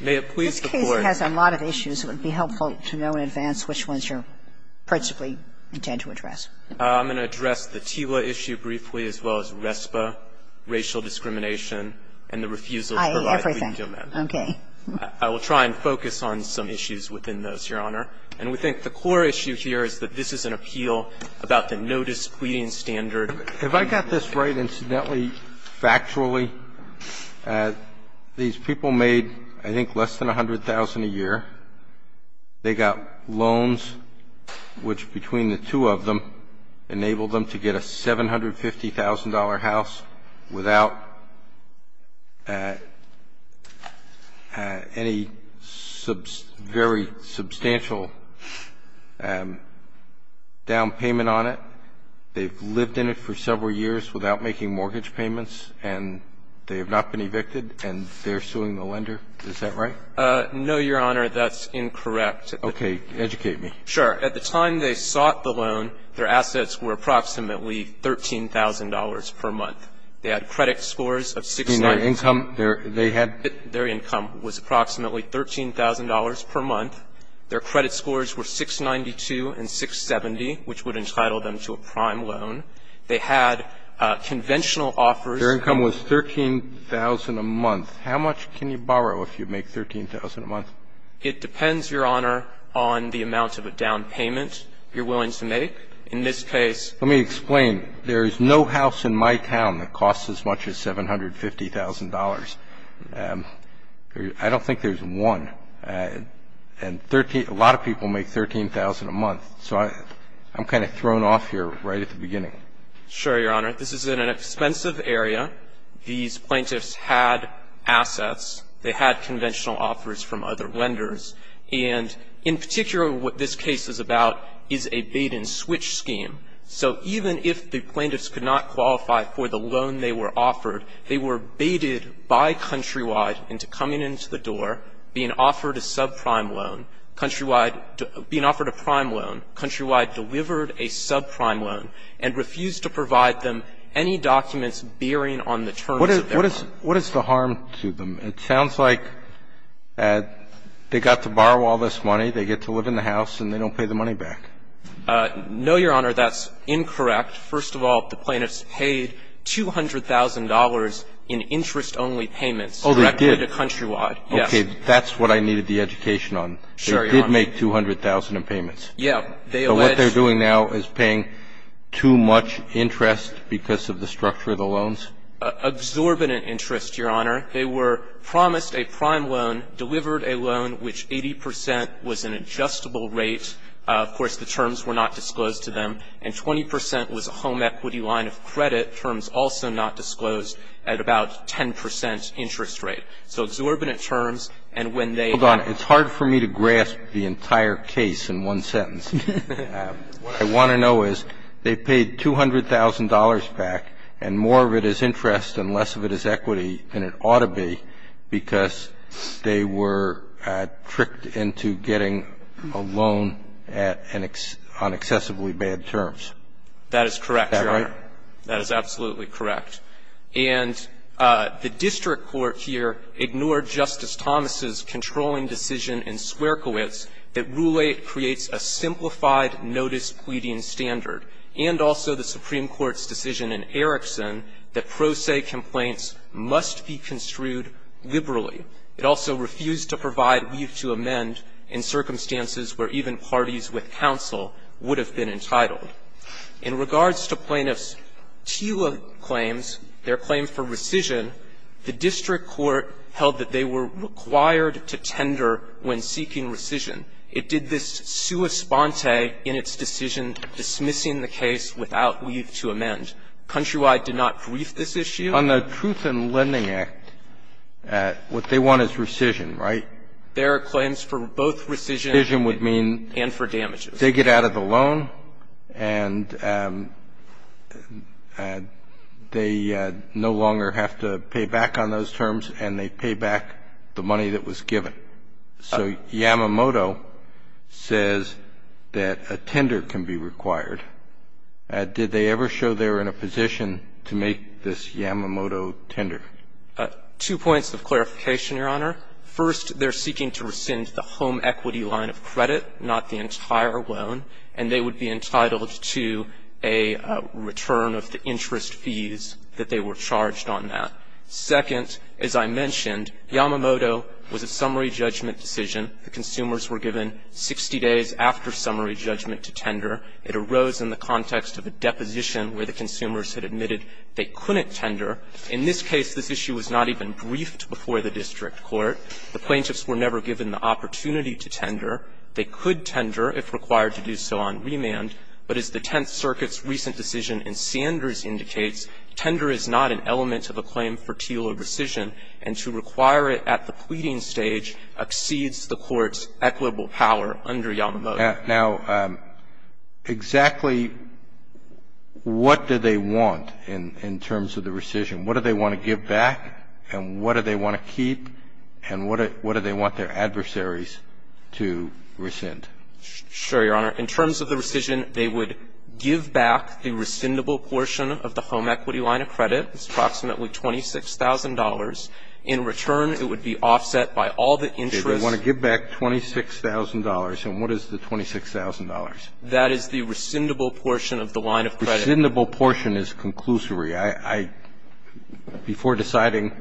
This case has a lot of issues. It would be helpful to know in advance which ones you principally intend to address. I'm going to address the TILA issue briefly, as well as RESPA, racial discrimination, and the refusal to provide legal medicine. I.A., everything. Okay. I will try and focus on some issues within those, Your Honor. And we think the core issue here is that this is an appeal about the no displeasing standard. If I got this right, incidentally, factually, these people made, I think, less than $100,000 a year. They got loans which, between the two of them, enabled them to get a $750,000 house without any very substantial down payment on it. They've lived in it for several years without making mortgage payments, and they have not been evicted, and they're suing the lender. Is that right? No, Your Honor. That's incorrect. Okay. Educate me. Sure. At the time they sought the loan, their assets were approximately $13,000 per month. They had credit scores of 690. You mean their income? Their income was approximately $13,000 per month. Their credit scores were 692 and 670, which would entitle them to a prime loan. They had conventional offers. Their income was $13,000 a month. How much can you borrow if you make $13,000 a month? It depends, Your Honor, on the amount of a down payment you're willing to make. In this case ---- Let me explain. There is no house in my town that costs as much as $750,000. I don't think there's one. And a lot of people make $13,000 a month. So I'm kind of thrown off here right at the beginning. Sure, Your Honor. This is in an expensive area. These plaintiffs had assets. They had conventional offers from other lenders. And in particular, what this case is about is a bait-and-switch scheme. So even if the plaintiffs could not qualify for the loan they were offered, they were baited by Countrywide into coming into the door, being offered a subprime loan, Countrywide being offered a prime loan, Countrywide delivered a subprime loan, and refused to provide them any documents bearing on the terms of their loan. What is the harm to them? It sounds like they got to borrow all this money, they get to live in the house, and they don't pay the money back. No, Your Honor. That's incorrect. First of all, the plaintiffs paid $200,000 in interest-only payments directly to Countrywide. Oh, they did. Yes. That's what I needed the education on. Sure, Your Honor. They did make $200,000 in payments. Yeah. They alleged. So what they're doing now is paying too much interest because of the structure of the loans? Exorbitant interest, Your Honor. They were promised a prime loan, delivered a loan, which 80 percent was an adjustable rate. Of course, the terms were not disclosed to them. And 20 percent was a home equity line of credit, terms also not disclosed, at about 10 percent interest rate. So exorbitant terms, and when they- Hold on. It's hard for me to grasp the entire case in one sentence. What I want to know is they paid $200,000 back, and more of it is interest and less of it is equity than it ought to be because they were tricked into getting a home on excessively bad terms. That is correct, Your Honor. Is that right? That is absolutely correct. And the district court here ignored Justice Thomas's controlling decision in Squerkiewicz that Roulette creates a simplified notice-pleading standard, and also the Supreme Court's decision in Erickson that pro se complaints must be construed liberally. It also refused to provide leave to amend in circumstances where even parties with counsel would have been entitled. In regards to plaintiffs' TILA claims, their claim for rescission, the district court held that they were required to tender when seeking rescission. It did this sua sponte in its decision dismissing the case without leave to amend. Countrywide did not brief this issue. On the Truth in Lending Act, what they want is rescission, right? Their claims for both rescission and for damages. They get out of the loan, and they no longer have to pay back on those terms, and they pay back the money that was given. So Yamamoto says that a tender can be required. Did they ever show they were in a position to make this Yamamoto tender? Two points of clarification, Your Honor. First, they're seeking to rescind the home equity line of credit, not the entire loan, and they would be entitled to a return of the interest fees that they were charged on that. Second, as I mentioned, Yamamoto was a summary judgment decision. The consumers were given 60 days after summary judgment to tender. It arose in the context of a deposition where the consumers had admitted they couldn't tender. In this case, this issue was not even briefed before the district court. The plaintiffs were never given the opportunity to tender. They could tender if required to do so on remand. But as the Tenth Circuit's recent decision in Sanders indicates, tender is not an element of a claim for teal or rescission, and to require it at the pleading stage exceeds the court's equitable power under Yamamoto. Now, exactly what do they want in terms of the rescission? What do they want to give back, and what do they want to keep, and what do they want their adversaries to rescind? Sure, Your Honor. In terms of the rescission, they would give back the rescindable portion of the home equity line of credit. It's approximately $26,000. In return, it would be offset by all the interest. They want to give back $26,000, and what is the $26,000? That is the rescindable portion of the line of credit. Rescindable portion is conclusory. I – before deciding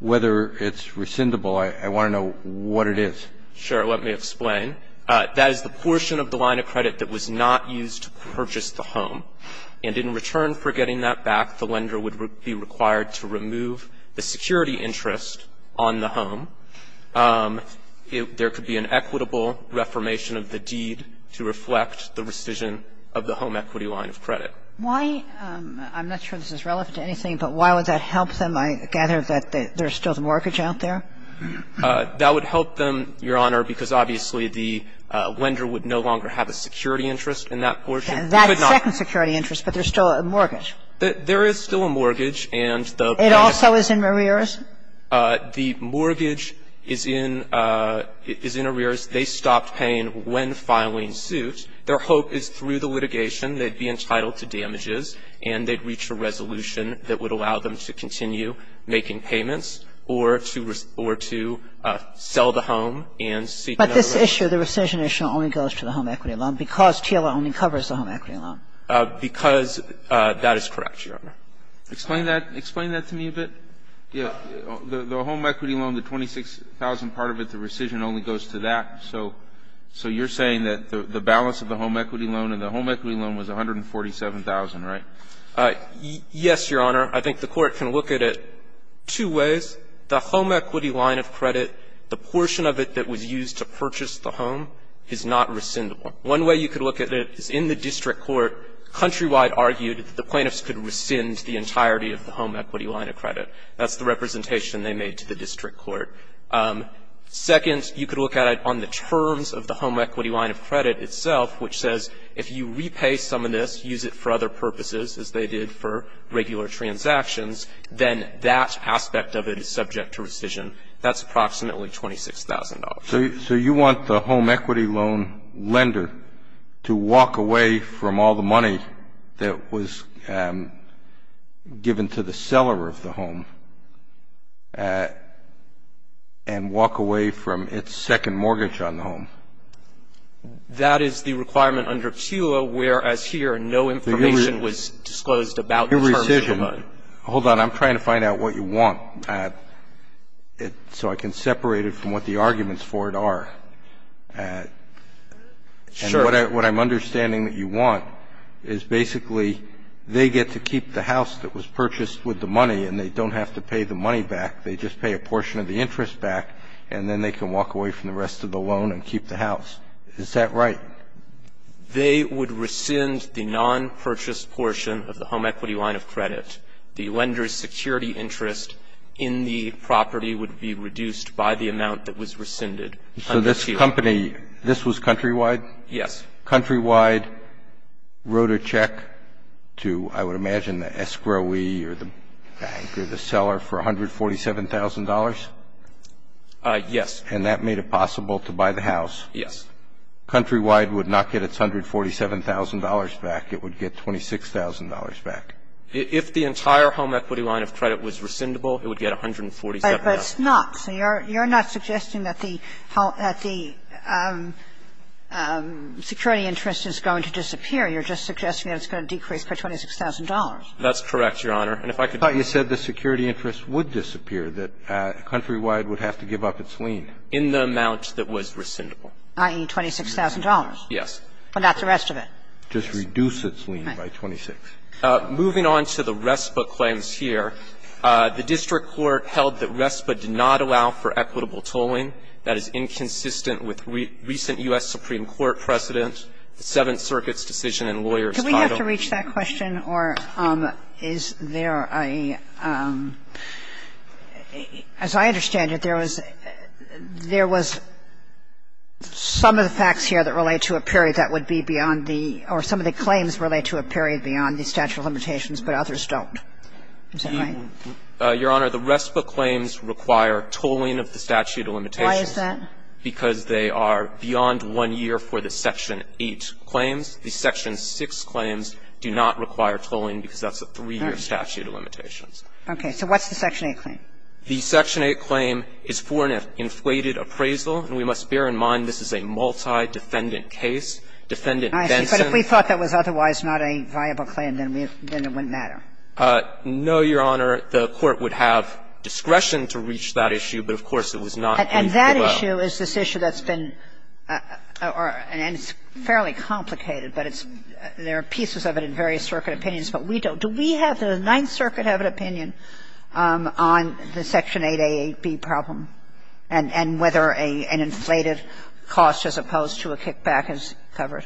whether it's rescindable, I want to know what it is. Sure. Let me explain. That is the portion of the line of credit that was not used to purchase the home. And in return for getting that back, the lender would be required to remove the security interest on the home. There could be an equitable reformation of the deed to reflect the rescission of the home equity line of credit. Why – I'm not sure this is relevant to anything, but why would that help them? I gather that there's still the mortgage out there. That would help them, Your Honor, because obviously the lender would no longer have a security interest in that portion. That second security interest, but there's still a mortgage. There is still a mortgage, and the bank – It also is in Marreras? The mortgage is in – is in Marreras. They stopped paying when filing suit. Their hope is through the litigation they'd be entitled to damages, and they'd reach a resolution that would allow them to continue making payments or to – or to sell the home and seek another loan. But this issue, the rescission issue, only goes to the home equity loan because TLA only covers the home equity loan. Because that is correct, Your Honor. Explain that – explain that to me a bit. Yeah. The home equity loan, the $26,000 part of it, the rescission only goes to that. So – so you're saying that the balance of the home equity loan and the home equity loan was $147,000, right? Yes, Your Honor. I think the Court can look at it two ways. The home equity line of credit, the portion of it that was used to purchase the home is not rescindable. One way you could look at it is in the district court, Countrywide argued that the plaintiffs could rescind the entirety of the home equity line of credit. That's the representation they made to the district court. Second, you could look at it on the terms of the home equity line of credit itself, which says if you repay some of this, use it for other purposes, as they did for regular transactions, then that aspect of it is subject to rescission. That's approximately $26,000. So you want the home equity loan lender to walk away from all the money that was given to the seller of the home and walk away from its second mortgage on the home. That is the requirement under PUA, whereas here no information was disclosed about the terms of the loan. Your rescission – hold on, I'm trying to find out what you want so I can separate it from what the arguments for it are. Sure. And what I'm understanding that you want is basically they get to keep the house that was purchased with the money and they don't have to pay the money back. They just pay a portion of the interest back and then they can walk away from the rest of the loan and keep the house. Is that right? They would rescind the non-purchase portion of the home equity line of credit. The lender's security interest in the property would be reduced by the amount that was rescinded. So this company – this was Countrywide? Yes. Countrywide wrote a check to, I would imagine, the escrowee or the bank or the seller for $147,000? Yes. And that made it possible to buy the house? Yes. Countrywide would not get its $147,000 back. It would get $26,000 back. If the entire home equity line of credit was rescindable, it would get $147,000. But it's not. So you're not suggesting that the security interest is going to disappear. You're just suggesting that it's going to decrease by $26,000. That's correct, Your Honor. And if I could just – I thought you said the security interest would disappear, that Countrywide would have to give up its lien. In the amount that was rescindable. I.e., $26,000. Yes. But not the rest of it. Just reduce its lien by 26. Moving on to the RESPA claims here, the district court held that RESPA did not allow for equitable tolling. That is inconsistent with recent U.S. Supreme Court precedent, the Seventh Circuit's decision in lawyers' title. Do we have to reach that question, or is there a – as I understand it, there was – there was some of the facts here that relate to a period that would be beyond the – or some of the claims relate to a period beyond the statute of limitations, but others don't. Is that right? Your Honor, the RESPA claims require tolling of the statute of limitations. Why is that? Because they are beyond one year for the Section 8 claims. The Section 6 claims do not require tolling because that's a three-year statute of limitations. Okay. So what's the Section 8 claim? The Section 8 claim is for an inflated appraisal, and we must bear in mind this is a multi-defendant case. Defendant Benson – I see. But if we thought that was otherwise not a viable claim, then it wouldn't matter. No, Your Honor. The Court would have discretion to reach that issue, but of course, it was not in the law. And that issue is this issue that's been – and it's fairly complicated, but it's – there are pieces of it in various circuit opinions, but we don't. Do we have – does the Ninth Circuit have an opinion on the Section 8a, 8b problem and whether an inflated cost as opposed to a kickback is covered?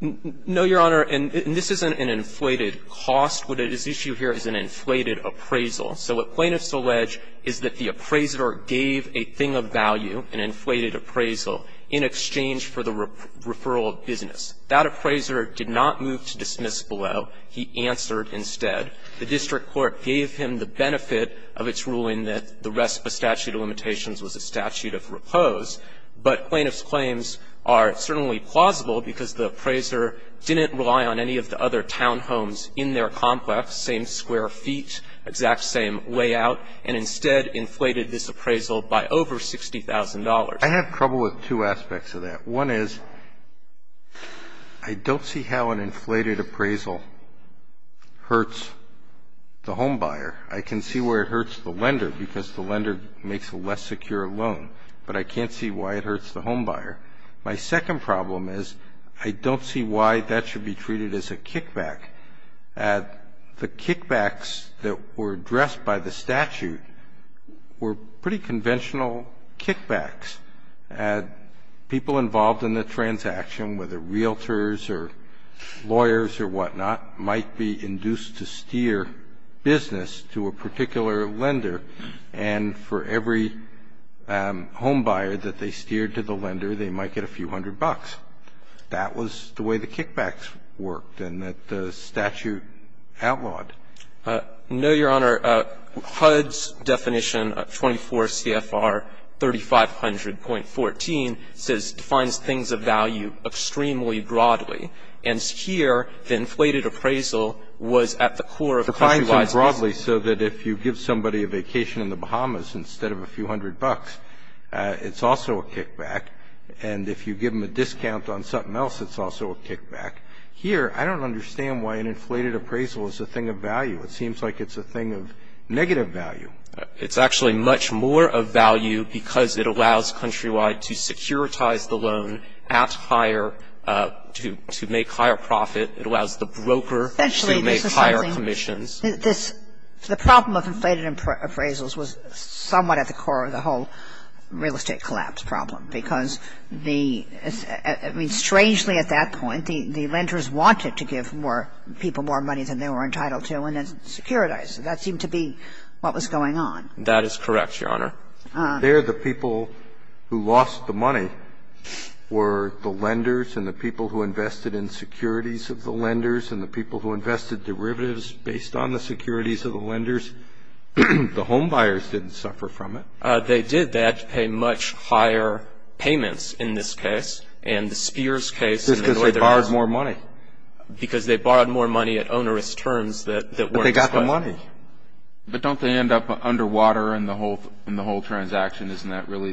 No, Your Honor. And this isn't an inflated cost. What is at issue here is an inflated appraisal. So what plaintiffs allege is that the appraiser gave a thing of value, an inflated appraisal, in exchange for the referral of business. That appraiser did not move to dismiss below. He answered instead. The district court gave him the benefit of its ruling that the rest of the statute of limitations was a statute of repose. But plaintiffs' claims are certainly plausible because the appraiser didn't rely on any of the other townhomes in their complex, same square feet, exact same layout, and instead inflated this appraisal by over $60,000. I have trouble with two aspects of that. One is I don't see how an inflated appraisal hurts the homebuyer. I can see where it hurts the lender because the lender makes a less secure loan, but I can't see why it hurts the homebuyer. My second problem is I don't see why that should be treated as a kickback. The kickbacks that were addressed by the statute were pretty conventional kickbacks. People involved in the transaction, whether realtors or lawyers or whatnot, might be induced to steer business to a particular lender, and for every homebuyer that they steered to the lender, they might get a few hundred bucks. That was the way the kickbacks worked and that the statute outlawed. No, Your Honor. HUD's definition, 24 CFR 3500.14, says defines things of value extremely broadly, and here the inflated appraisal was at the core of the countrywide business. So if you give somebody a vacation in the Bahamas instead of a few hundred bucks, it's also a kickback. And if you give them a discount on something else, it's also a kickback. Here, I don't understand why an inflated appraisal is a thing of value. It seems like it's a thing of negative value. It's actually much more of value because it allows countrywide to securitize the loan at higher, to make higher profit. It allows the broker to make higher commissions. Essentially, this is something that this the problem of inflated appraisals was somewhat at the core of the whole real estate collapse problem, because the – I mean, strangely, at that point, the lenders wanted to give more people more money than they were entitled to and then securitize. That seemed to be what was going on. That is correct, Your Honor. There, the people who lost the money were the lenders and the people who invested in securities of the lenders and the people who invested derivatives based on the securities of the lenders. The homebuyers didn't suffer from it. They did that to pay much higher payments in this case. And the Spears case – Just because they borrowed more money. Because they borrowed more money at onerous terms that weren't – But they got the money. But don't they end up underwater in the whole transaction? Isn't that really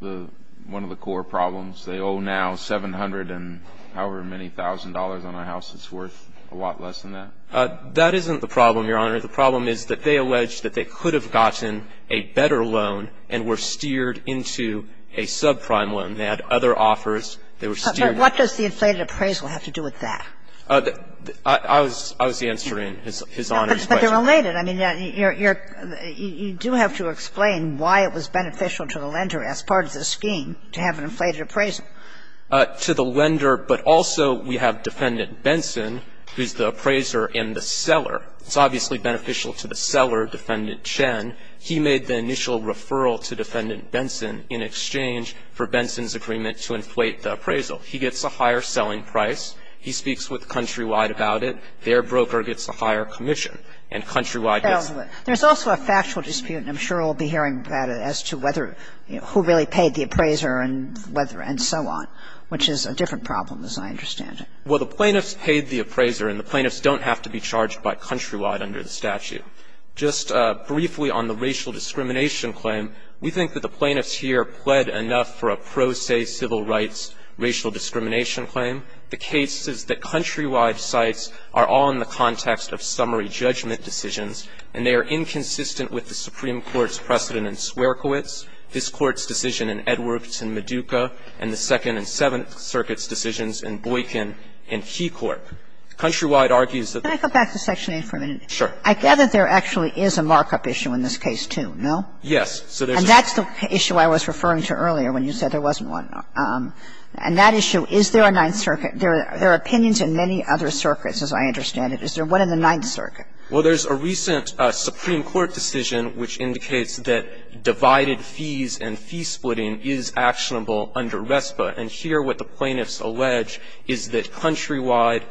the – one of the core problems? They owe now $700 and however many thousand dollars on a house that's worth a lot less than that. That isn't the problem, Your Honor. The problem is that they allege that they could have gotten a better loan and were steered into a subprime loan. They had other offers. They were steered into that. But what does the inflated appraisal have to do with that? I was answering His Honor's question. But they're related. I mean, you do have to explain why it was beneficial to the lender as part of the scheme to have an inflated appraisal. To the lender, but also we have Defendant Benson, who's the appraiser and the seller. It's obviously beneficial to the seller, Defendant Chen. He made the initial referral to Defendant Benson in exchange for Benson's agreement to inflate the appraisal. He gets a higher selling price. He speaks with Countrywide about it. Their broker gets a higher commission. And Countrywide gets the same. There's also a factual dispute, and I'm sure we'll be hearing about it, as to whether – who really paid the appraiser and whether – and so on, which is a different problem, as I understand it. I think it's important to note that the plaintiff's claim is not the same as the The plaintiff's claim is that the appraisal was made by Countrywide under the statute. Just briefly on the racial discrimination claim, we think that the plaintiffs here pled enough for a pro se civil rights racial discrimination claim. The case is that Countrywide's sites are all in the context of summary judgment decisions, and they are inconsistent with the Supreme Court's precedent in Swerkowitz, this Court's decision in Edwards and Meduca, and the Second and Seventh Circuit's decisions in Boykin and Keycorp. Countrywide argues that the Can I go back to Section 8 for a minute? Sure. I gather there actually is a markup issue in this case, too, no? Yes. And that's the issue I was referring to earlier when you said there wasn't one. And that issue, is there a Ninth Circuit? There are opinions in many other circuits, as I understand it. Is there one in the Ninth Circuit? Well, there's a recent Supreme Court decision which indicates that divided fees and fee splitting is actionable under RESPA. And here what the plaintiffs allege is that Countrywide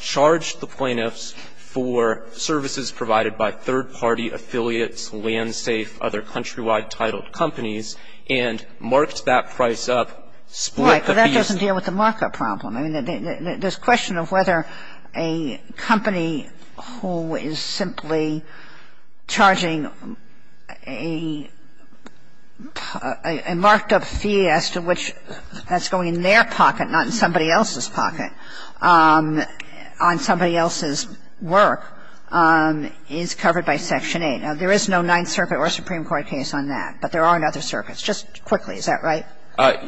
charged the plaintiffs for services provided by third-party affiliates, LandSafe, other Countrywide titled companies, and marked that price up, split the fees. Right. But that doesn't deal with the markup problem. I mean, this question of whether a company who is simply charging a marked-up fee as to which that's going in their pocket, not in somebody else's pocket, on somebody else's work, is covered by Section 8. Now, there is no Ninth Circuit or Supreme Court case on that, but there are in other circuits. Just quickly, is that right?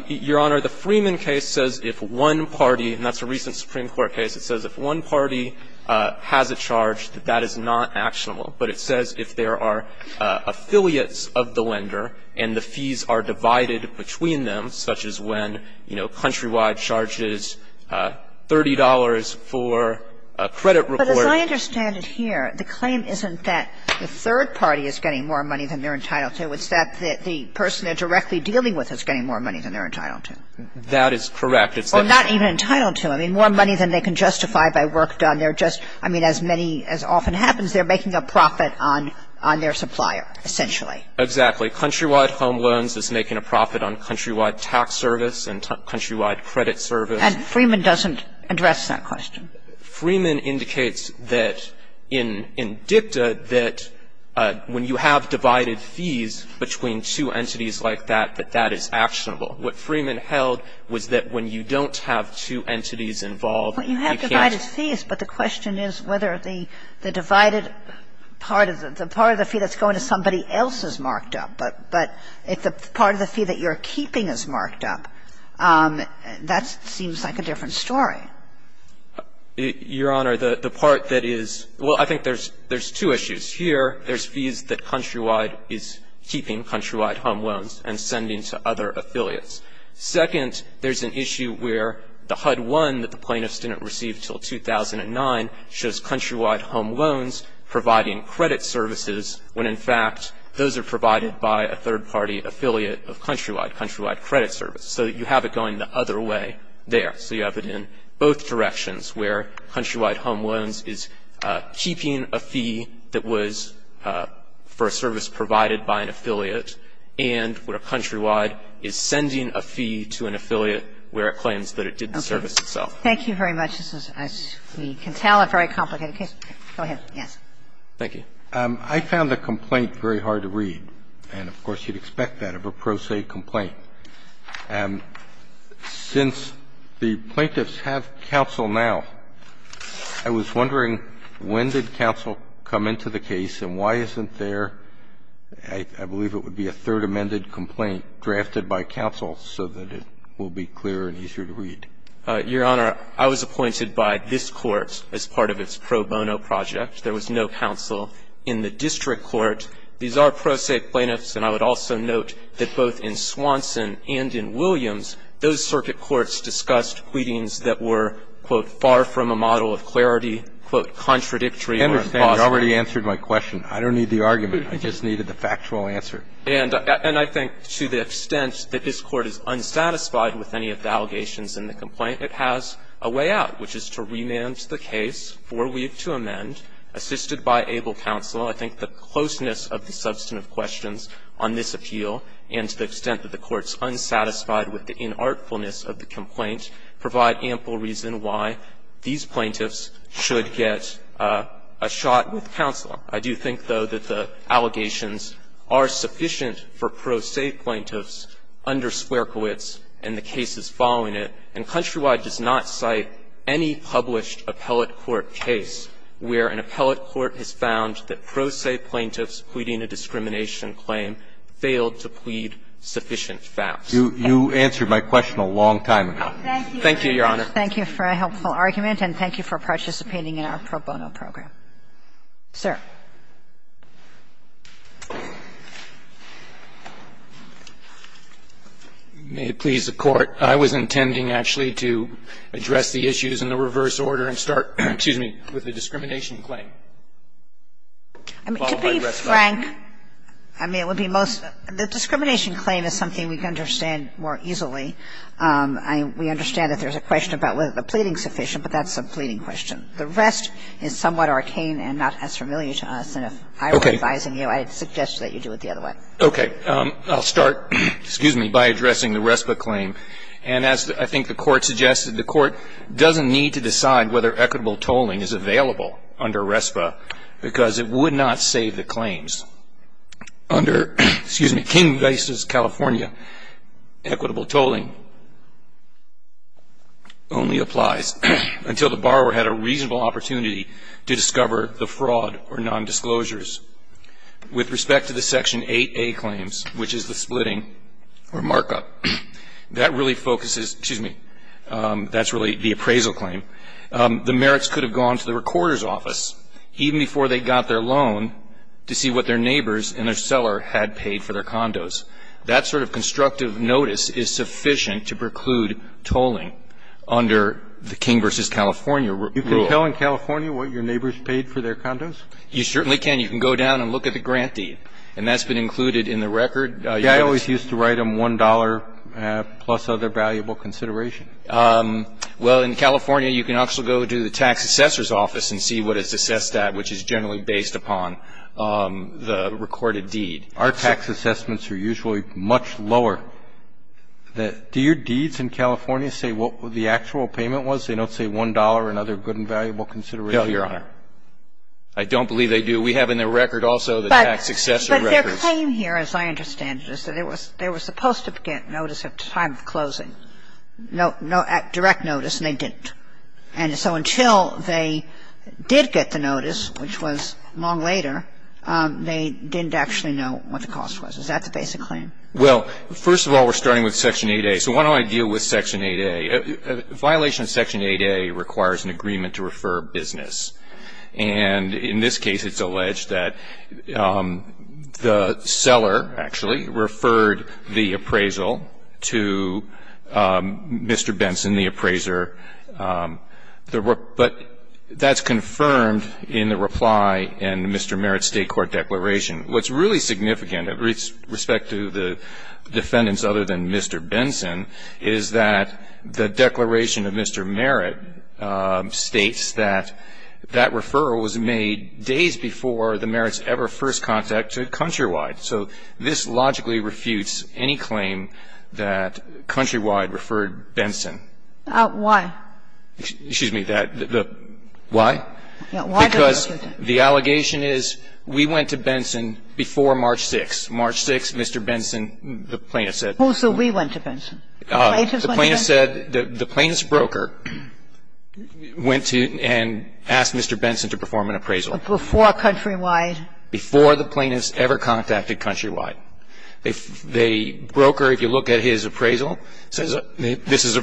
Your Honor, the Freeman case says if one party, and that's a recent Supreme Court case, it says if one party has a charge that that is not actionable, but it says if there are affiliates of the lender and the fees are divided between them, such as when, you know, Countrywide charges $30 for a credit report. But as I understand it here, the claim isn't that the third party is getting more money than they're entitled to. It's that the person they're directly dealing with is getting more money than they're entitled to. That is correct. Or not even entitled to. I mean, more money than they can justify by work done. They're just — I mean, as many — as often happens, they're making a profit on their supplier, essentially. Exactly. Countrywide Home Loans is making a profit on Countrywide Tax Service and Countrywide Credit Service. And Freeman doesn't address that question. Freeman indicates that in DICTA that when you have divided fees between two entities like that, that that is actionable. What Freeman held was that when you don't have two entities involved, you can't Well, you have divided fees, but the question is whether the divided part of the — the part of the fee that's going to somebody else is marked up. But if the part of the fee that you're keeping is marked up, that seems like a different story. Your Honor, the part that is — well, I think there's two issues. Here, there's fees that Countrywide is keeping, Countrywide Home Loans, and sending to other affiliates. Second, there's an issue where the HUD-1 that the plaintiffs didn't receive until 2009 shows Countrywide Home Loans providing credit services when, in fact, those are provided by a third-party affiliate of Countrywide, Countrywide Credit Service. So you have it going the other way there. So you have it in both directions, where Countrywide Home Loans is keeping a fee that was for a service provided by an affiliate, and where Countrywide is sending a fee to an affiliate where it claims that it did the service itself. Okay. Thank you very much. This is, as we can tell, a very complicated case. Go ahead. Yes. Thank you. I found the complaint very hard to read. And, of course, you'd expect that of a pro se complaint. Since the plaintiffs have counsel now, I was wondering, when did counsel come into the case, and why isn't there, I believe it would be a third amended complaint drafted by counsel so that it will be clearer and easier to read? Your Honor, I was appointed by this Court as part of its pro bono project. There was no counsel in the district court. These are pro se plaintiffs, and I would also note that both in Swanson and in Williams, those circuit courts discussed pleadings that were, quote, far from a model of clarity, quote, contradictory or impossible. I understand you already answered my question. I don't need the argument. I just needed the factual answer. And I think to the extent that this Court is unsatisfied with any of the allegations in the complaint, it has a way out, which is to remand the case, forweave to amend, assisted by able counsel. I think the closeness of the substantive questions on this appeal, and to the extent that the Court's unsatisfied with the inartfulness of the complaint, provide ample reason why these plaintiffs should get a shot with counsel. I do think, though, that the allegations are sufficient for pro se plaintiffs under Swerkowitz and the cases following it. And Countrywide does not cite any published appellate court case where an appellate court has found that pro se plaintiffs pleading a discrimination claim failed to plead sufficient facts. You answered my question a long time ago. Thank you, Your Honor. Thank you for a helpful argument, and thank you for participating in our pro bono program. Sir. May it please the Court. I was intending, actually, to address the issues in the reverse order and start with the discrimination claim. I mean, to be frank, I mean, it would be most the discrimination claim is something we can understand more easily. We understand that there's a question about whether the pleading is sufficient, but that's a pleading question. The rest is somewhat arcane and not as familiar to us. And if I were advising you, I'd suggest that you do it the other way. Okay. I'll start, excuse me, by addressing the RESPA claim. And as I think the Court suggested, the Court doesn't need to decide whether equitable tolling is available under RESPA because it would not save the claims. Under, excuse me, King v. California, equitable tolling only applies until the borrower had a reasonable opportunity to discover the fraud or nondisclosures. With respect to the Section 8a claims, which is the splitting or markup, that really focuses, excuse me, that's really the appraisal claim. The merits could have gone to the recorder's office even before they got their loan to see what their neighbors and their seller had paid for their condos. That sort of constructive notice is sufficient to preclude tolling under the King v. California rule. You can tell in California what your neighbors paid for their condos? You certainly can. You can go down and look at the grant deed. And that's been included in the record. I always used to write them $1 plus other valuable consideration. Well, in California, you can also go to the tax assessor's office and see what it's assessed at, which is generally based upon the recorded deed. Our tax assessments are usually much lower. Do your deeds in California say what the actual payment was? They don't say $1 and other good and valuable consideration? No, Your Honor. I don't believe they do. We have in the record also the tax assessor records. But their claim here, as I understand it, is that they were supposed to get notice at the time of closing, no direct notice, and they didn't. And so until they did get the notice, which was long later, they didn't actually know what the cost was. Is that the basic claim? Well, first of all, we're starting with Section 8A. So why don't I deal with Section 8A? A violation of Section 8A requires an agreement to refer business. And in this case, it's alleged that the seller, actually, referred the appraisal to Mr. Benson, the appraiser. But that's confirmed in the reply in Mr. Merritt's State Court declaration. What's really significant, with respect to the defendants other than Mr. Benson, is that the declaration of Mr. Merritt states that that referral was made days before the Merritts' ever first contact to Countrywide. So this logically refutes any claim that Countrywide referred Benson. Why? Excuse me. The why? Because the allegation is we went to Benson before March 6th. March 6th, Mr. Benson, the plaintiff said. Oh, so we went to Benson. The plaintiff said, the plaintiff's broker went to and asked Mr. Benson to perform an appraisal. Before Countrywide. Before the plaintiff's ever contacted Countrywide. The broker, if you look at his appraisal, says this is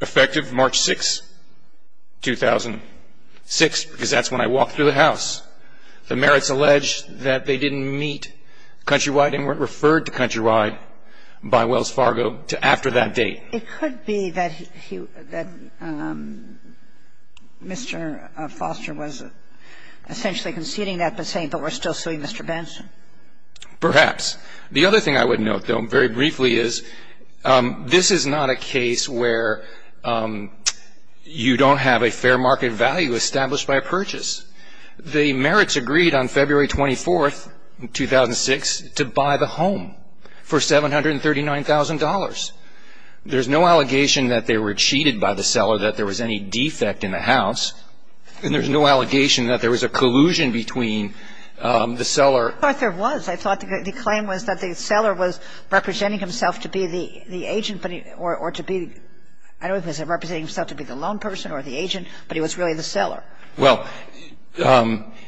effective March 6th, 2006, because that's when I walked through the house. The Merritts alleged that they didn't meet Countrywide and weren't referred to Countrywide by Wells Fargo to after that date. It could be that he, that Mr. Foster was essentially conceding that but saying, but we're still suing Mr. Benson. Perhaps. The other thing I would note, though, very briefly is this is not a case where you The Merritts agreed on February 24th, 2006, to buy the home for $739,000. There's no allegation that they were cheated by the seller, that there was any defect in the house, and there's no allegation that there was a collusion between the seller I thought there was. I thought the claim was that the seller was representing himself to be the agent, but he, or to be, I don't know if he was representing himself to be the loan person or the agent, but he was really the seller. Well,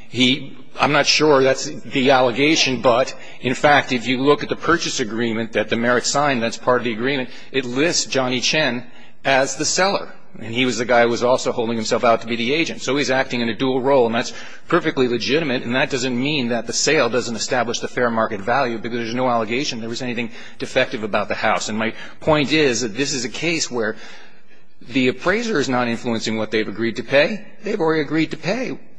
he, I'm not sure that's the allegation, but in fact, if you look at the purchase agreement that the Merritts signed, that's part of the agreement, it lists Johnny Chen as the seller, and he was the guy who was also holding himself out to be the agent. So he's acting in a dual role, and that's perfectly legitimate, and that doesn't mean that the sale doesn't establish the fair market value because there's no allegation that there was anything defective about the house. And my point is that this is a case where the appraiser is not influencing what they've agreed to pay,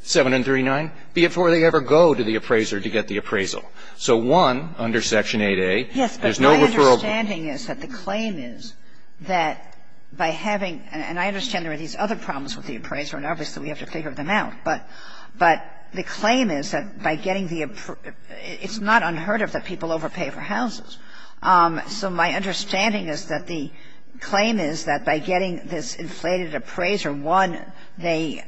7 and 39, before they ever go to the appraiser to get the appraisal. So one, under Section 8A, there's no referral. Yes, but my understanding is that the claim is that by having, and I understand there are these other problems with the appraiser, and obviously we have to figure them out, but the claim is that by getting the, it's not unheard of that people overpay for houses. So my understanding is that the claim is that by getting this inflated appraiser, one, they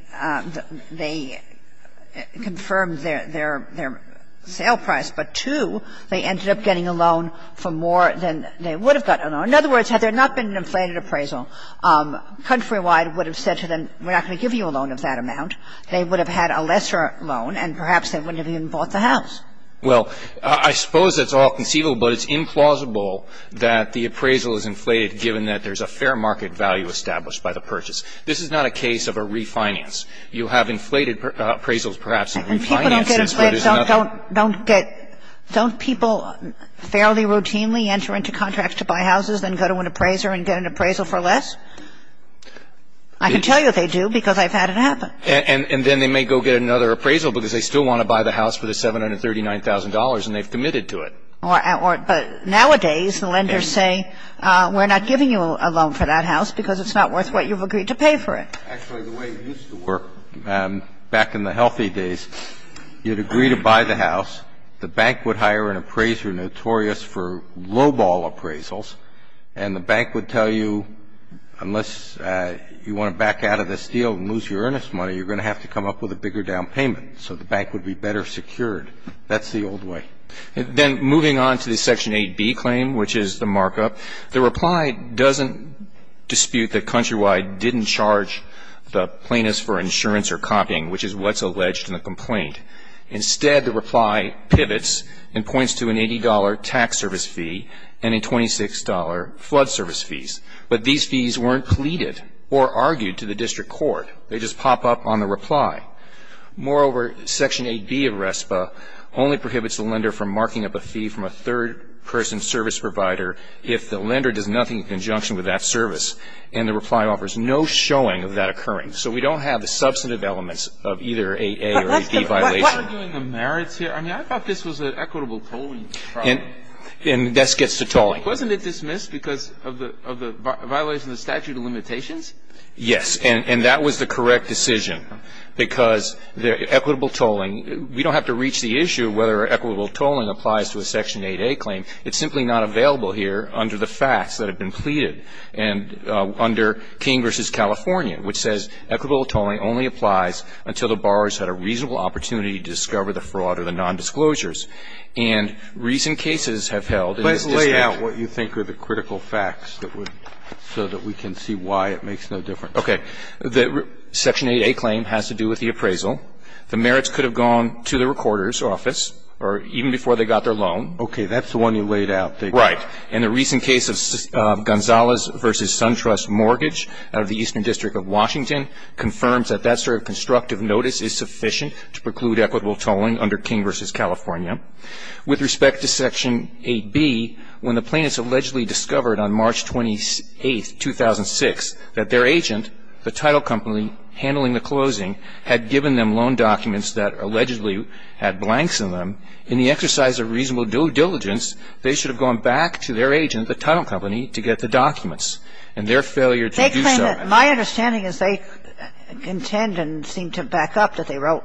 confirmed their sale price, but two, they ended up getting a loan for more than they would have got a loan. In other words, had there not been an inflated appraisal, Countrywide would have said to them, we're not going to give you a loan of that amount, they would have had a lesser loan, and perhaps they wouldn't have even bought the house. Well, I suppose it's all conceivable, but it's implausible that the appraisal is inflated given that there's a fair market value established by the purchase. This is not a case of a refinance. You have inflated appraisals perhaps and refinances, but it's nothing. Don't people fairly routinely enter into contracts to buy houses, then go to an appraiser and get an appraisal for less? I can tell you that they do, because I've had it happen. And then they may go get another appraisal because they still want to buy the house for the $739,000, and they've committed to it. But nowadays, the lenders say, we're not giving you a loan for that house because it's not worth what you've agreed to pay for it. Actually, the way it used to work back in the healthy days, you'd agree to buy the house, the bank would hire an appraiser notorious for lowball appraisals, and the bank would tell you, unless you want to back out of this deal and lose your earnest money, you're going to have to come up with a bigger down payment, so the bank would be better secured. That's the old way. Then moving on to the Section 8B claim, which is the markup, the reply doesn't dispute that Countrywide didn't charge the plaintiffs for insurance or copying, which is what's alleged in the complaint. Instead, the reply pivots and points to an $80 tax service fee and a $26 flood service fees. But these fees weren't pleaded or argued to the district court. They just pop up on the reply. Moreover, Section 8B of RESPA only prohibits the lender from marking up a fee from a third-person service provider if the lender does nothing in conjunction with that service, and the reply offers no showing of that occurring. So we don't have the substantive elements of either 8A or 8B violation. But what are doing the merits here? I mean, I thought this was an equitable tolling trial. And this gets to tolling. Wasn't it dismissed because of the violation of the statute of limitations? Yes. And that was the correct decision, because the equitable tolling, we don't have to reach the issue of whether equitable tolling applies to a Section 8A claim. It's simply not available here under the facts that have been pleaded and under King v. California, which says equitable tolling only applies until the borrower has had a reasonable opportunity to discover the fraud or the nondisclosures. And recent cases have held in the district court. Okay. The Section 8A claim has to do with the appraisal. The merits could have gone to the recorder's office or even before they got their loan. Okay. That's the one you laid out there. Right. And the recent case of Gonzales v. SunTrust Mortgage out of the Eastern District of Washington confirms that that sort of constructive notice is sufficient to preclude equitable tolling under King v. California. With respect to Section 8B, when the plaintiffs allegedly discovered on March 28th, 2006, that their agent, the title company handling the closing, had given them loan documents that allegedly had blanks in them, in the exercise of reasonable diligence, they should have gone back to their agent, the title company, to get the documents. And their failure to do so at that time was the reason for their failure to do so. They claim that my understanding is they contend and seem to back up that they wrote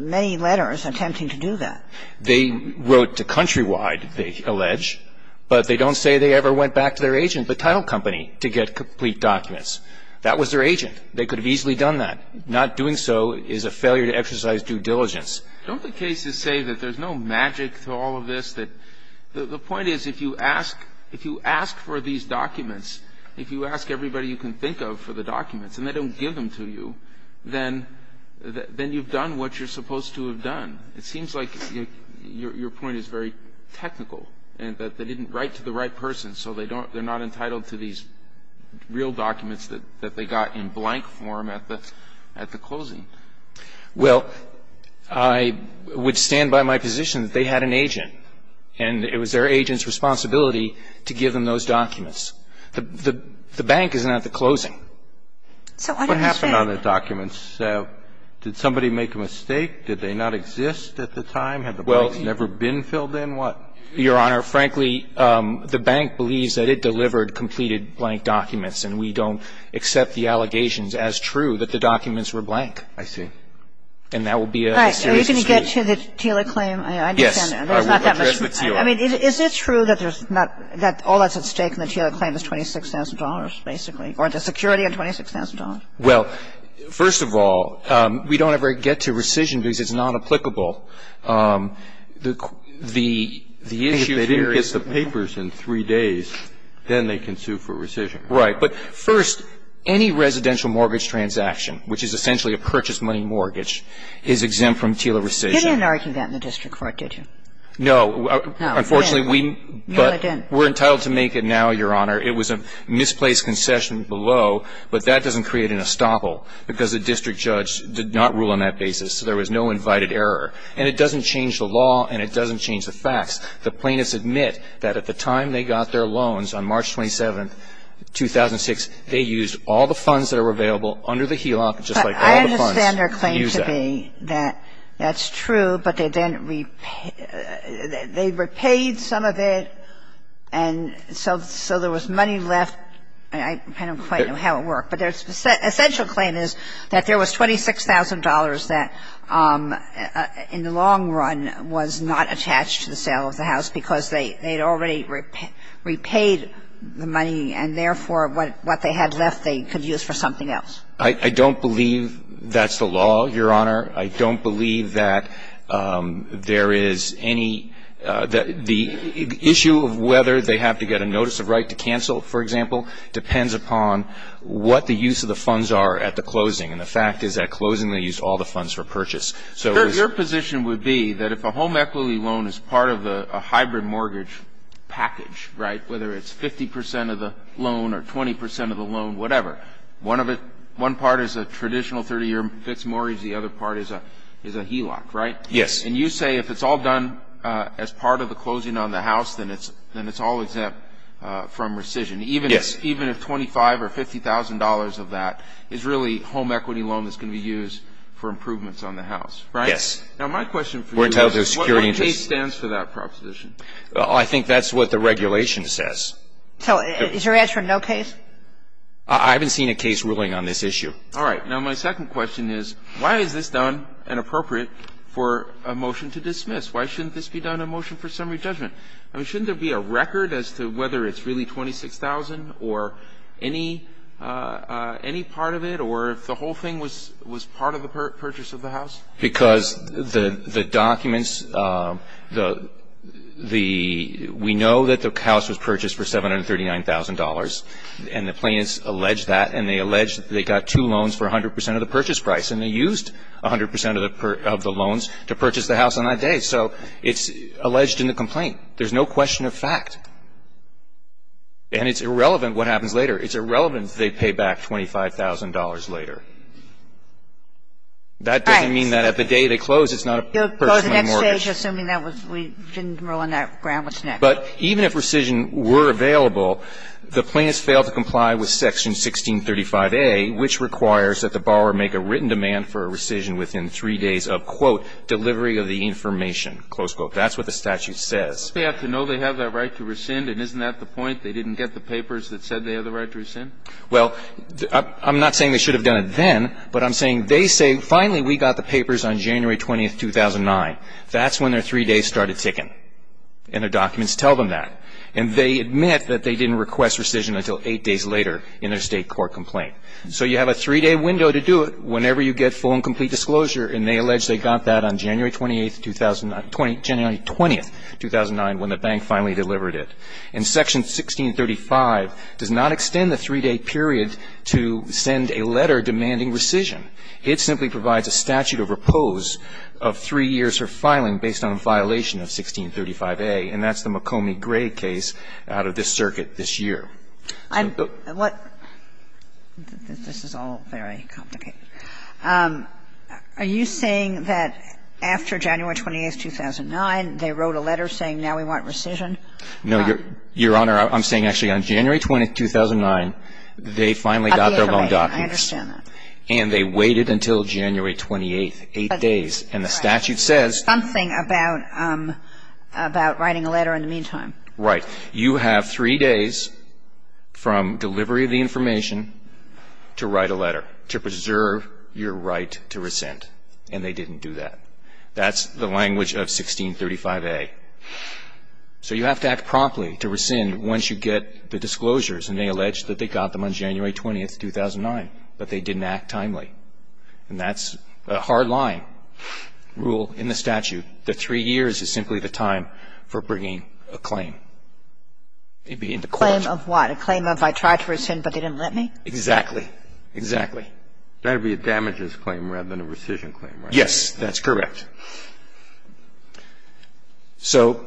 many letters attempting to do that. They wrote to Countrywide, they allege, but they don't say they ever went back to their agent, the title company, to get complete documents. That was their agent. They could have easily done that. Not doing so is a failure to exercise due diligence. Don't the cases say that there's no magic to all of this, that the point is if you ask, if you ask for these documents, if you ask everybody you can think of for the documents and they don't give them to you, then you've done what you're supposed to have done. It seems like your point is very technical, that they didn't write to the right person, so they don't they're not entitled to these real documents that they got in blank form at the closing. Well, I would stand by my position that they had an agent, and it was their agent's responsibility to give them those documents. The bank is not the closing. So what happened on the documents? Did somebody make a mistake? Did they not exist at the time? Had the blanks never been filled in? What? Your Honor, frankly, the bank believes that it delivered completed blank documents, and we don't accept the allegations as true that the documents were blank. I see. And that would be a serious mistake. Can we get to the TILA claim? Yes. I will address the TILA. I mean, is it true that there's not that all that's at stake in the TILA claim is $26,000, basically, or the security of $26,000? Well, first of all, we don't ever get to rescission because it's not applicable. The issue here is the papers in three days, then they can sue for rescission. Right. But first, any residential mortgage transaction, which is essentially a purchase money mortgage, is exempt from TILA rescission. You didn't argue that in the district court, did you? No. No, you didn't. Unfortunately, we're entitled to make it now, Your Honor. I understand their claim to be that that's true, but they then repaid some of it, and so there was misplaced concession below, but that doesn't create an estoppel because the district judge did not rule on that basis, so there was no invited error, and it doesn't change the law, and it doesn't change the facts. The plaintiffs admit that at the time they got their loans on March 27, 2006, they used all the funds that were available under the HELOC, just like all the funds used at that time. I understand their claim to be that that's true, but they then repaid some of it, and so there was money left. I don't quite know how it worked, but their essential claim is that there was $26,000 that in the long run was not attached to the sale of the house because they had already repaid the money, and therefore, what they had left they could use for something else. I don't believe that's the law, Your Honor. I don't believe that there is any – the issue of whether they have to get a notice of right to cancel, for example, depends upon what the use of the funds are at the closing, and the fact is at closing, they used all the funds for purchase. So it was –– that if a home equity loan is part of a hybrid mortgage package, right, whether it's 50% of the loan or 20% of the loan, whatever, one part is a traditional 30-year fixed mortgage, the other part is a HELOC, right? Yes. And you say if it's all done as part of the closing on the house, then it's all exempt from rescission, even if $25,000 or $50,000 of that is really home equity loan that's going to be used for improvements on the house, right? Yes. Now, my question for you is what case stands for that proposition? Well, I think that's what the regulation says. So is your answer no case? I haven't seen a case ruling on this issue. All right. Now, my second question is why is this done and appropriate for a motion to dismiss? Why shouldn't this be done in a motion for summary judgment? I mean, shouldn't there be a record as to whether it's really $26,000 or any part of it or if the whole thing was part of the purchase of the house? Because the documents, the we know that the house was purchased for $739,000 and the plaintiffs alleged that and they alleged they got two loans for 100% of the purchase price and they used 100% of the loans to purchase the house on that day. So it's alleged in the complaint. There's no question of fact. And it's irrelevant what happens later. It's irrelevant if they pay back $25,000 later. That doesn't mean that at the day they close it's not a personal mortgage. You'll go to the next stage assuming that we didn't rule on that grant. What's next? But even if rescission were available, the plaintiffs failed to comply with Section 1635a, which requires that the borrower make a written demand for a rescission within three days of, quote, delivery of the information, close quote. That's what the statute says. They have to know they have that right to rescind, and isn't that the point? They didn't get the papers that said they have the right to rescind? Well, I'm not saying they should have done it then, but I'm saying they say, finally, we got the papers on January 20, 2009. That's when their three days started ticking. And the documents tell them that. And they admit that they didn't request rescission until eight days later in their state court complaint. So you have a three day window to do it whenever you get full and complete disclosure. And they allege they got that on January 20, 2009 when the bank finally delivered it. And Section 1635 does not extend the three day period to send a letter demanding rescission. It simply provides a statute of repose of three years for filing based on a violation of 1635a, and that's the McCombie-Gray case out of this circuit this year. And what – this is all very complicated. Are you saying that after January 20, 2009, they wrote a letter saying now we want rescission? No, Your Honor, I'm saying actually on January 20, 2009, they finally got their loan documents. I understand that. And they waited until January 28, eight days. And the statute says – Something about writing a letter in the meantime. Right. You have three days from delivery of the information to write a letter to preserve your right to rescind. And they didn't do that. That's the language of 1635a. So you have to act promptly to rescind once you get the disclosures. And they allege that they got them on January 20, 2009, but they didn't act timely. And that's a hard line rule in the statute. The three years is simply the time for bringing a claim. Maybe in the court. A claim of what? A claim of I tried to rescind, but they didn't let me? Exactly. Exactly. That would be a damages claim rather than a rescission claim, right? Yes, that's correct. So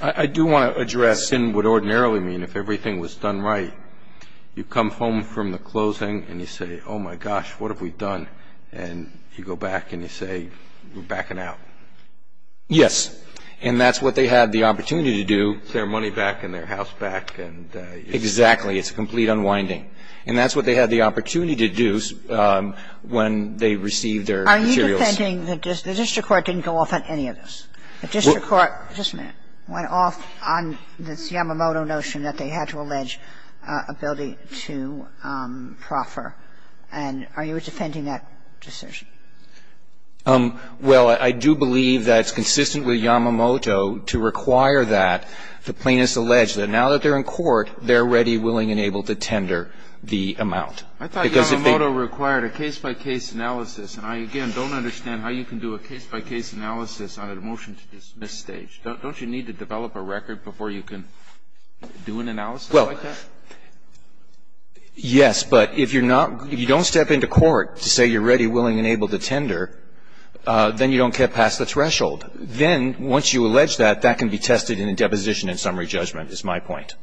I do want to address what ordinarily would mean if everything was done right. You come home from the closing and you say, oh, my gosh, what have we done? And you go back and you say, we're backing out. Yes. And that's what they had the opportunity to do. Get their money back and their house back. Exactly. It's a complete unwinding. And that's what they had the opportunity to do when they received their materials. Are you defending that the district court didn't go off on any of this? The district court, just a minute, went off on this Yamamoto notion that they had to allege ability to proffer, and are you defending that decision? Well, I do believe that it's consistent with Yamamoto to require that the plaintiffs allege that now that they're in court, they're ready, willing and able to tender the amount. I thought Yamamoto required a case-by-case analysis. And I, again, don't understand how you can do a case-by-case analysis on a motion to dismiss stage. Don't you need to develop a record before you can do an analysis like that? Well, yes. But if you don't step into court to say you're ready, willing and able to tender, then you don't get past the threshold. Then once you allege that, that can be tested in a deposition and summary judgment, is my point.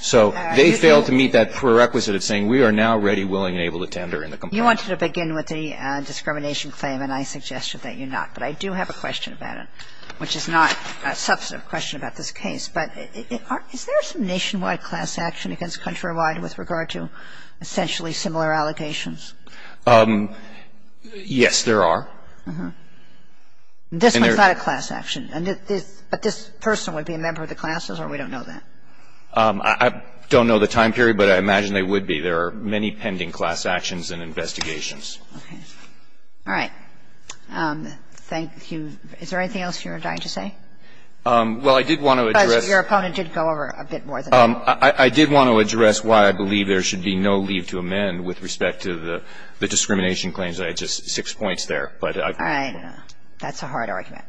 So they fail to meet that prerequisite of saying we are now ready, willing and able to tender in the complaint. You wanted to begin with the discrimination claim, and I suggested that you not. But I do have a question about it, which is not a substantive question about this case. But is there some nationwide class action against Countrywide with regard to essentially similar allegations? Yes, there are. This one's not a class action. But this person would be a member of the classes or we don't know that? I don't know the time period, but I imagine they would be. There are many pending class actions and investigations. Okay. All right. Thank you. Is there anything else you were dying to say? Well, I did want to address. Because your opponent did go over a bit more than that. I did want to address why I believe there should be no leave to amend with respect to the discrimination claims. I had just six points there. All right. That's a hard argument.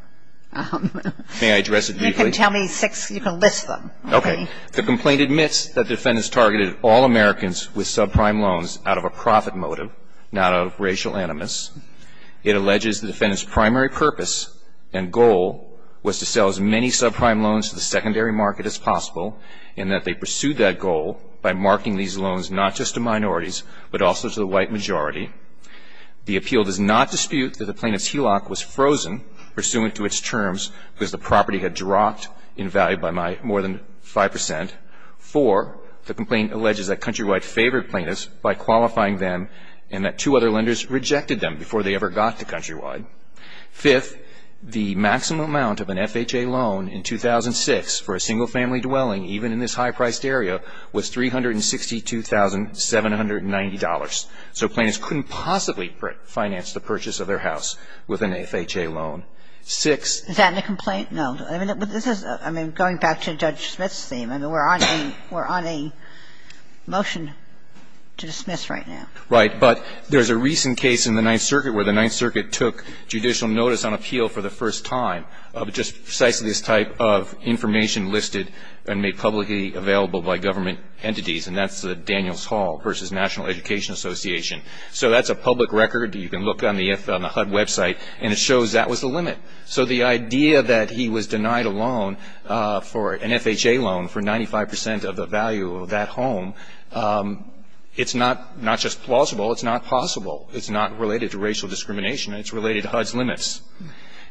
May I address it briefly? You can tell me six. You can list them. Okay. The complaint admits that the defendants targeted all Americans with subprime loans out of a profit motive, not out of racial animus. It alleges the defendants' primary purpose and goal was to sell as many subprime loans to the secondary market as possible, and that they pursued that goal by marking these loans not just to minorities, but also to the white majority. The appeal does not dispute that the plaintiff's HELOC was frozen pursuant to its terms because the property had dropped in value by more than 5 percent. Four, the complaint alleges that Countrywide favored plaintiffs by qualifying them and that two other lenders rejected them before they ever got to Countrywide. Fifth, the maximum amount of an FHA loan in 2006 for a single-family dwelling, even in this high-priced area, was $362,790. So plaintiffs couldn't possibly finance the purchase of their house with an FHA loan. Six. Is that in the complaint? No. I mean, this is going back to Judge Smith's theme. I mean, we're on a motion to dismiss right now. Right. But there's a recent case in the Ninth Circuit where the Ninth Circuit took judicial notice on appeal for the first time of just precisely this type of information listed and made publicly available by government entities, and that's the Daniels Hall v. National Education Association. So that's a public record. You can look on the HUD website, and it shows that was the limit. So the idea that he was denied a loan for an FHA loan for 95 percent of the value of that home, it's not just plausible. It's not possible. It's not related to racial discrimination. It's related to HUD's limits.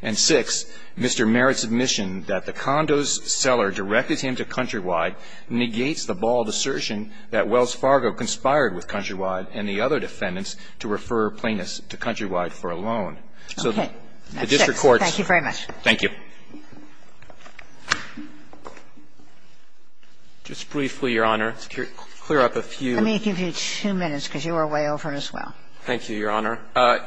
And six, Mr. Merritt's admission that the condo's seller directed him to Countrywide negates the bald assertion that Wells Fargo conspired with Countrywide and the other defendants to refer plaintiffs to Countrywide for a loan. So the district courts. Thank you very much. Thank you. Just briefly, Your Honor, to clear up a few. Let me give you two minutes, because you were way over as well. Thank you, Your Honor.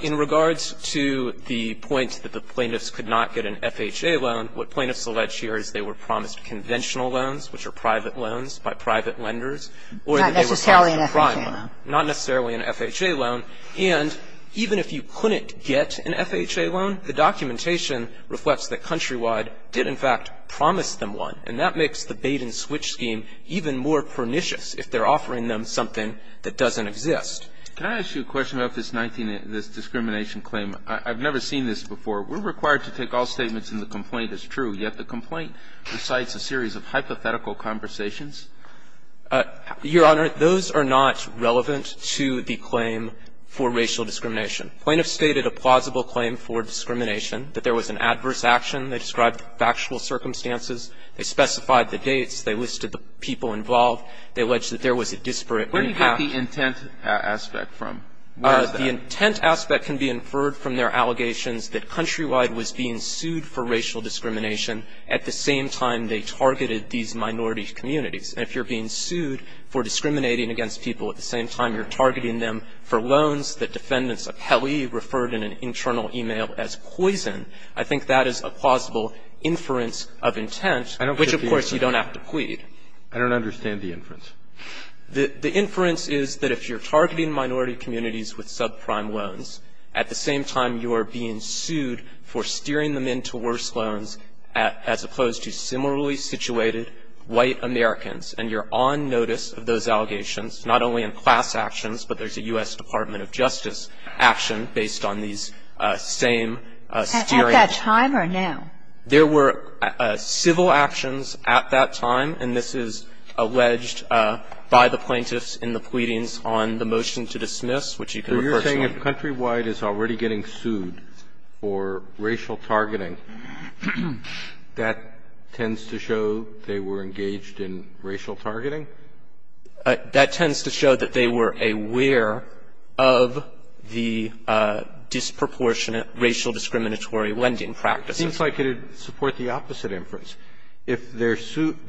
In regards to the point that the plaintiffs could not get an FHA loan, what plaintiffs allege here is they were promised conventional loans, which are private loans by private lenders, or that they were promised a private loan. Not necessarily an FHA loan. And even if you couldn't get an FHA loan, the documentation reflects that Countrywide did, in fact, promise them one. And that makes the Baden switch scheme even more pernicious if they're offering them something that doesn't exist. Can I ask you a question about this discrimination claim? I've never seen this before. We're required to take all statements in the complaint as true, yet the complaint recites a series of hypothetical conversations. Your Honor, those are not relevant to the claim for racial discrimination. Plaintiffs stated a plausible claim for discrimination, that there was an adverse action. They described factual circumstances. They specified the dates. They listed the people involved. They alleged that there was a disparate impact. Where do you get the intent aspect from? Where is that? The intent aspect can be inferred from their allegations that Countrywide was being sued for racial discrimination at the same time they targeted these minority communities. And if you're being sued for discriminating against people at the same time you're targeting them for loans that defendants of Pelley referred in an internal email as poison, I think that is a plausible inference of intent, which, of course, you don't have to plead. I don't understand the inference. The inference is that if you're targeting minority communities with subprime loans, at the same time you are being sued for steering them into worse loans as opposed to similarly situated white Americans, and you're on notice of those allegations, not only in class actions, but there's a U.S. Department of Justice action based on these same steering. At that time or now? There were civil actions at that time, and this is alleged by the plaintiffs in the pleadings on the motion to dismiss, which you can refer to. If countrywide is already getting sued for racial targeting, that tends to show they were engaged in racial targeting? That tends to show that they were aware of the disproportionate racial discriminatory lending practices. It seems like it would support the opposite inference. If they're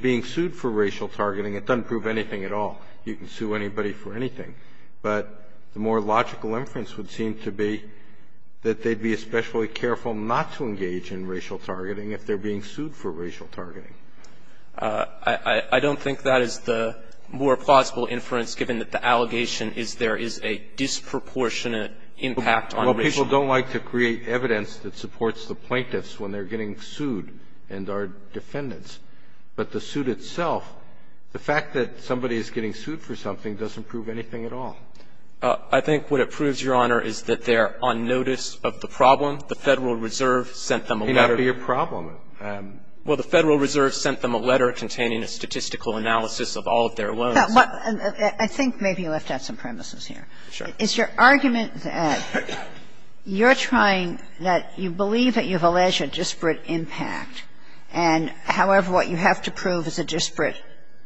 being sued for racial targeting, it doesn't prove anything at all. You can sue anybody for anything. But the more logical inference would seem to be that they'd be especially careful not to engage in racial targeting if they're being sued for racial targeting. I don't think that is the more plausible inference, given that the allegation is there is a disproportionate impact on racial targeting. Well, people don't like to create evidence that supports the plaintiffs when they're getting sued and are defendants. But the suit itself, the fact that somebody is getting sued for something doesn't prove anything at all. I think what it proves, Your Honor, is that they're on notice of the problem. The Federal Reserve sent them a letter. It may not be a problem. Well, the Federal Reserve sent them a letter containing a statistical analysis of all of their loans. I think maybe you left out some premises here. Sure. It's your argument that you're trying to believe that you've alleged a disparate impact, and, however, what you have to prove is a disparate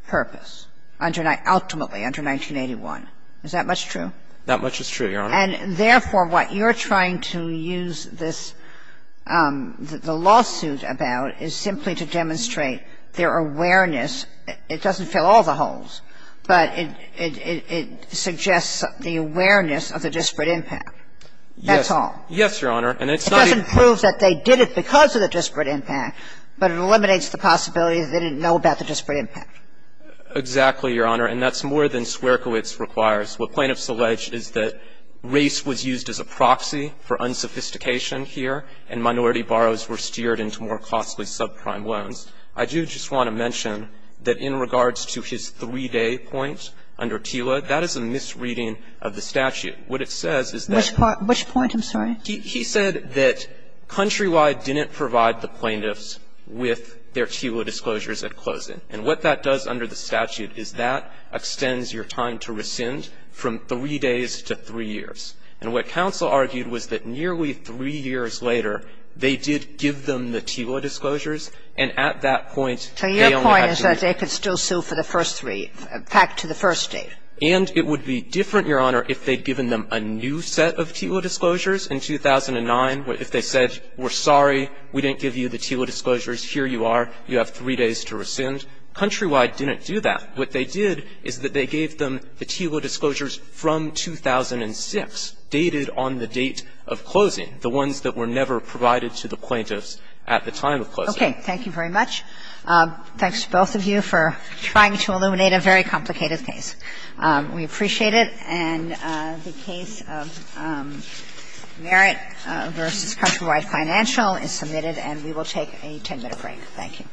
purpose, ultimately under 1981. Is that much true? That much is true, Your Honor. And, therefore, what you're trying to use this, the lawsuit about is simply to demonstrate their awareness. It doesn't fill all the holes, but it suggests the awareness of the disparate impact. Yes. That's all. Yes, Your Honor. And it's not even proof that they did it because of the disparate impact, but it eliminates the possibility that they didn't know about the disparate impact. Exactly, Your Honor, and that's more than Swerkiewicz requires. What plaintiffs allege is that race was used as a proxy for unsophistication here, and minority borrows were steered into more costly subprime loans. I do just want to mention that in regards to his 3-day point under TILA, that is a misreading of the statute. What it says is that he said that Countrywide didn't provide the plaintiffs with their TILA disclosures at closing. And what that does under the statute is that extends your time to rescind from 3 days to 3 years. And what counsel argued was that nearly 3 years later, they did give them the TILA disclosures, and at that point, they only had to do it. So your point is that they could still sue for the first 3, back to the first date. And it would be different, Your Honor, if they'd given them a new set of TILA disclosures in 2009, if they said, we're sorry, we didn't give you the TILA disclosures, here you are, you have 3 days to rescind. Countrywide didn't do that. What they did is that they gave them the TILA disclosures from 2006, dated on the date of closing, the ones that were never provided to the plaintiffs at the time of closing. Kagan. Thank you very much. Thanks to both of you for trying to illuminate a very complicated case. We appreciate it. And the case of Merritt v. Countrywide Financial is submitted, and we will take a 10-minute break. Thank you.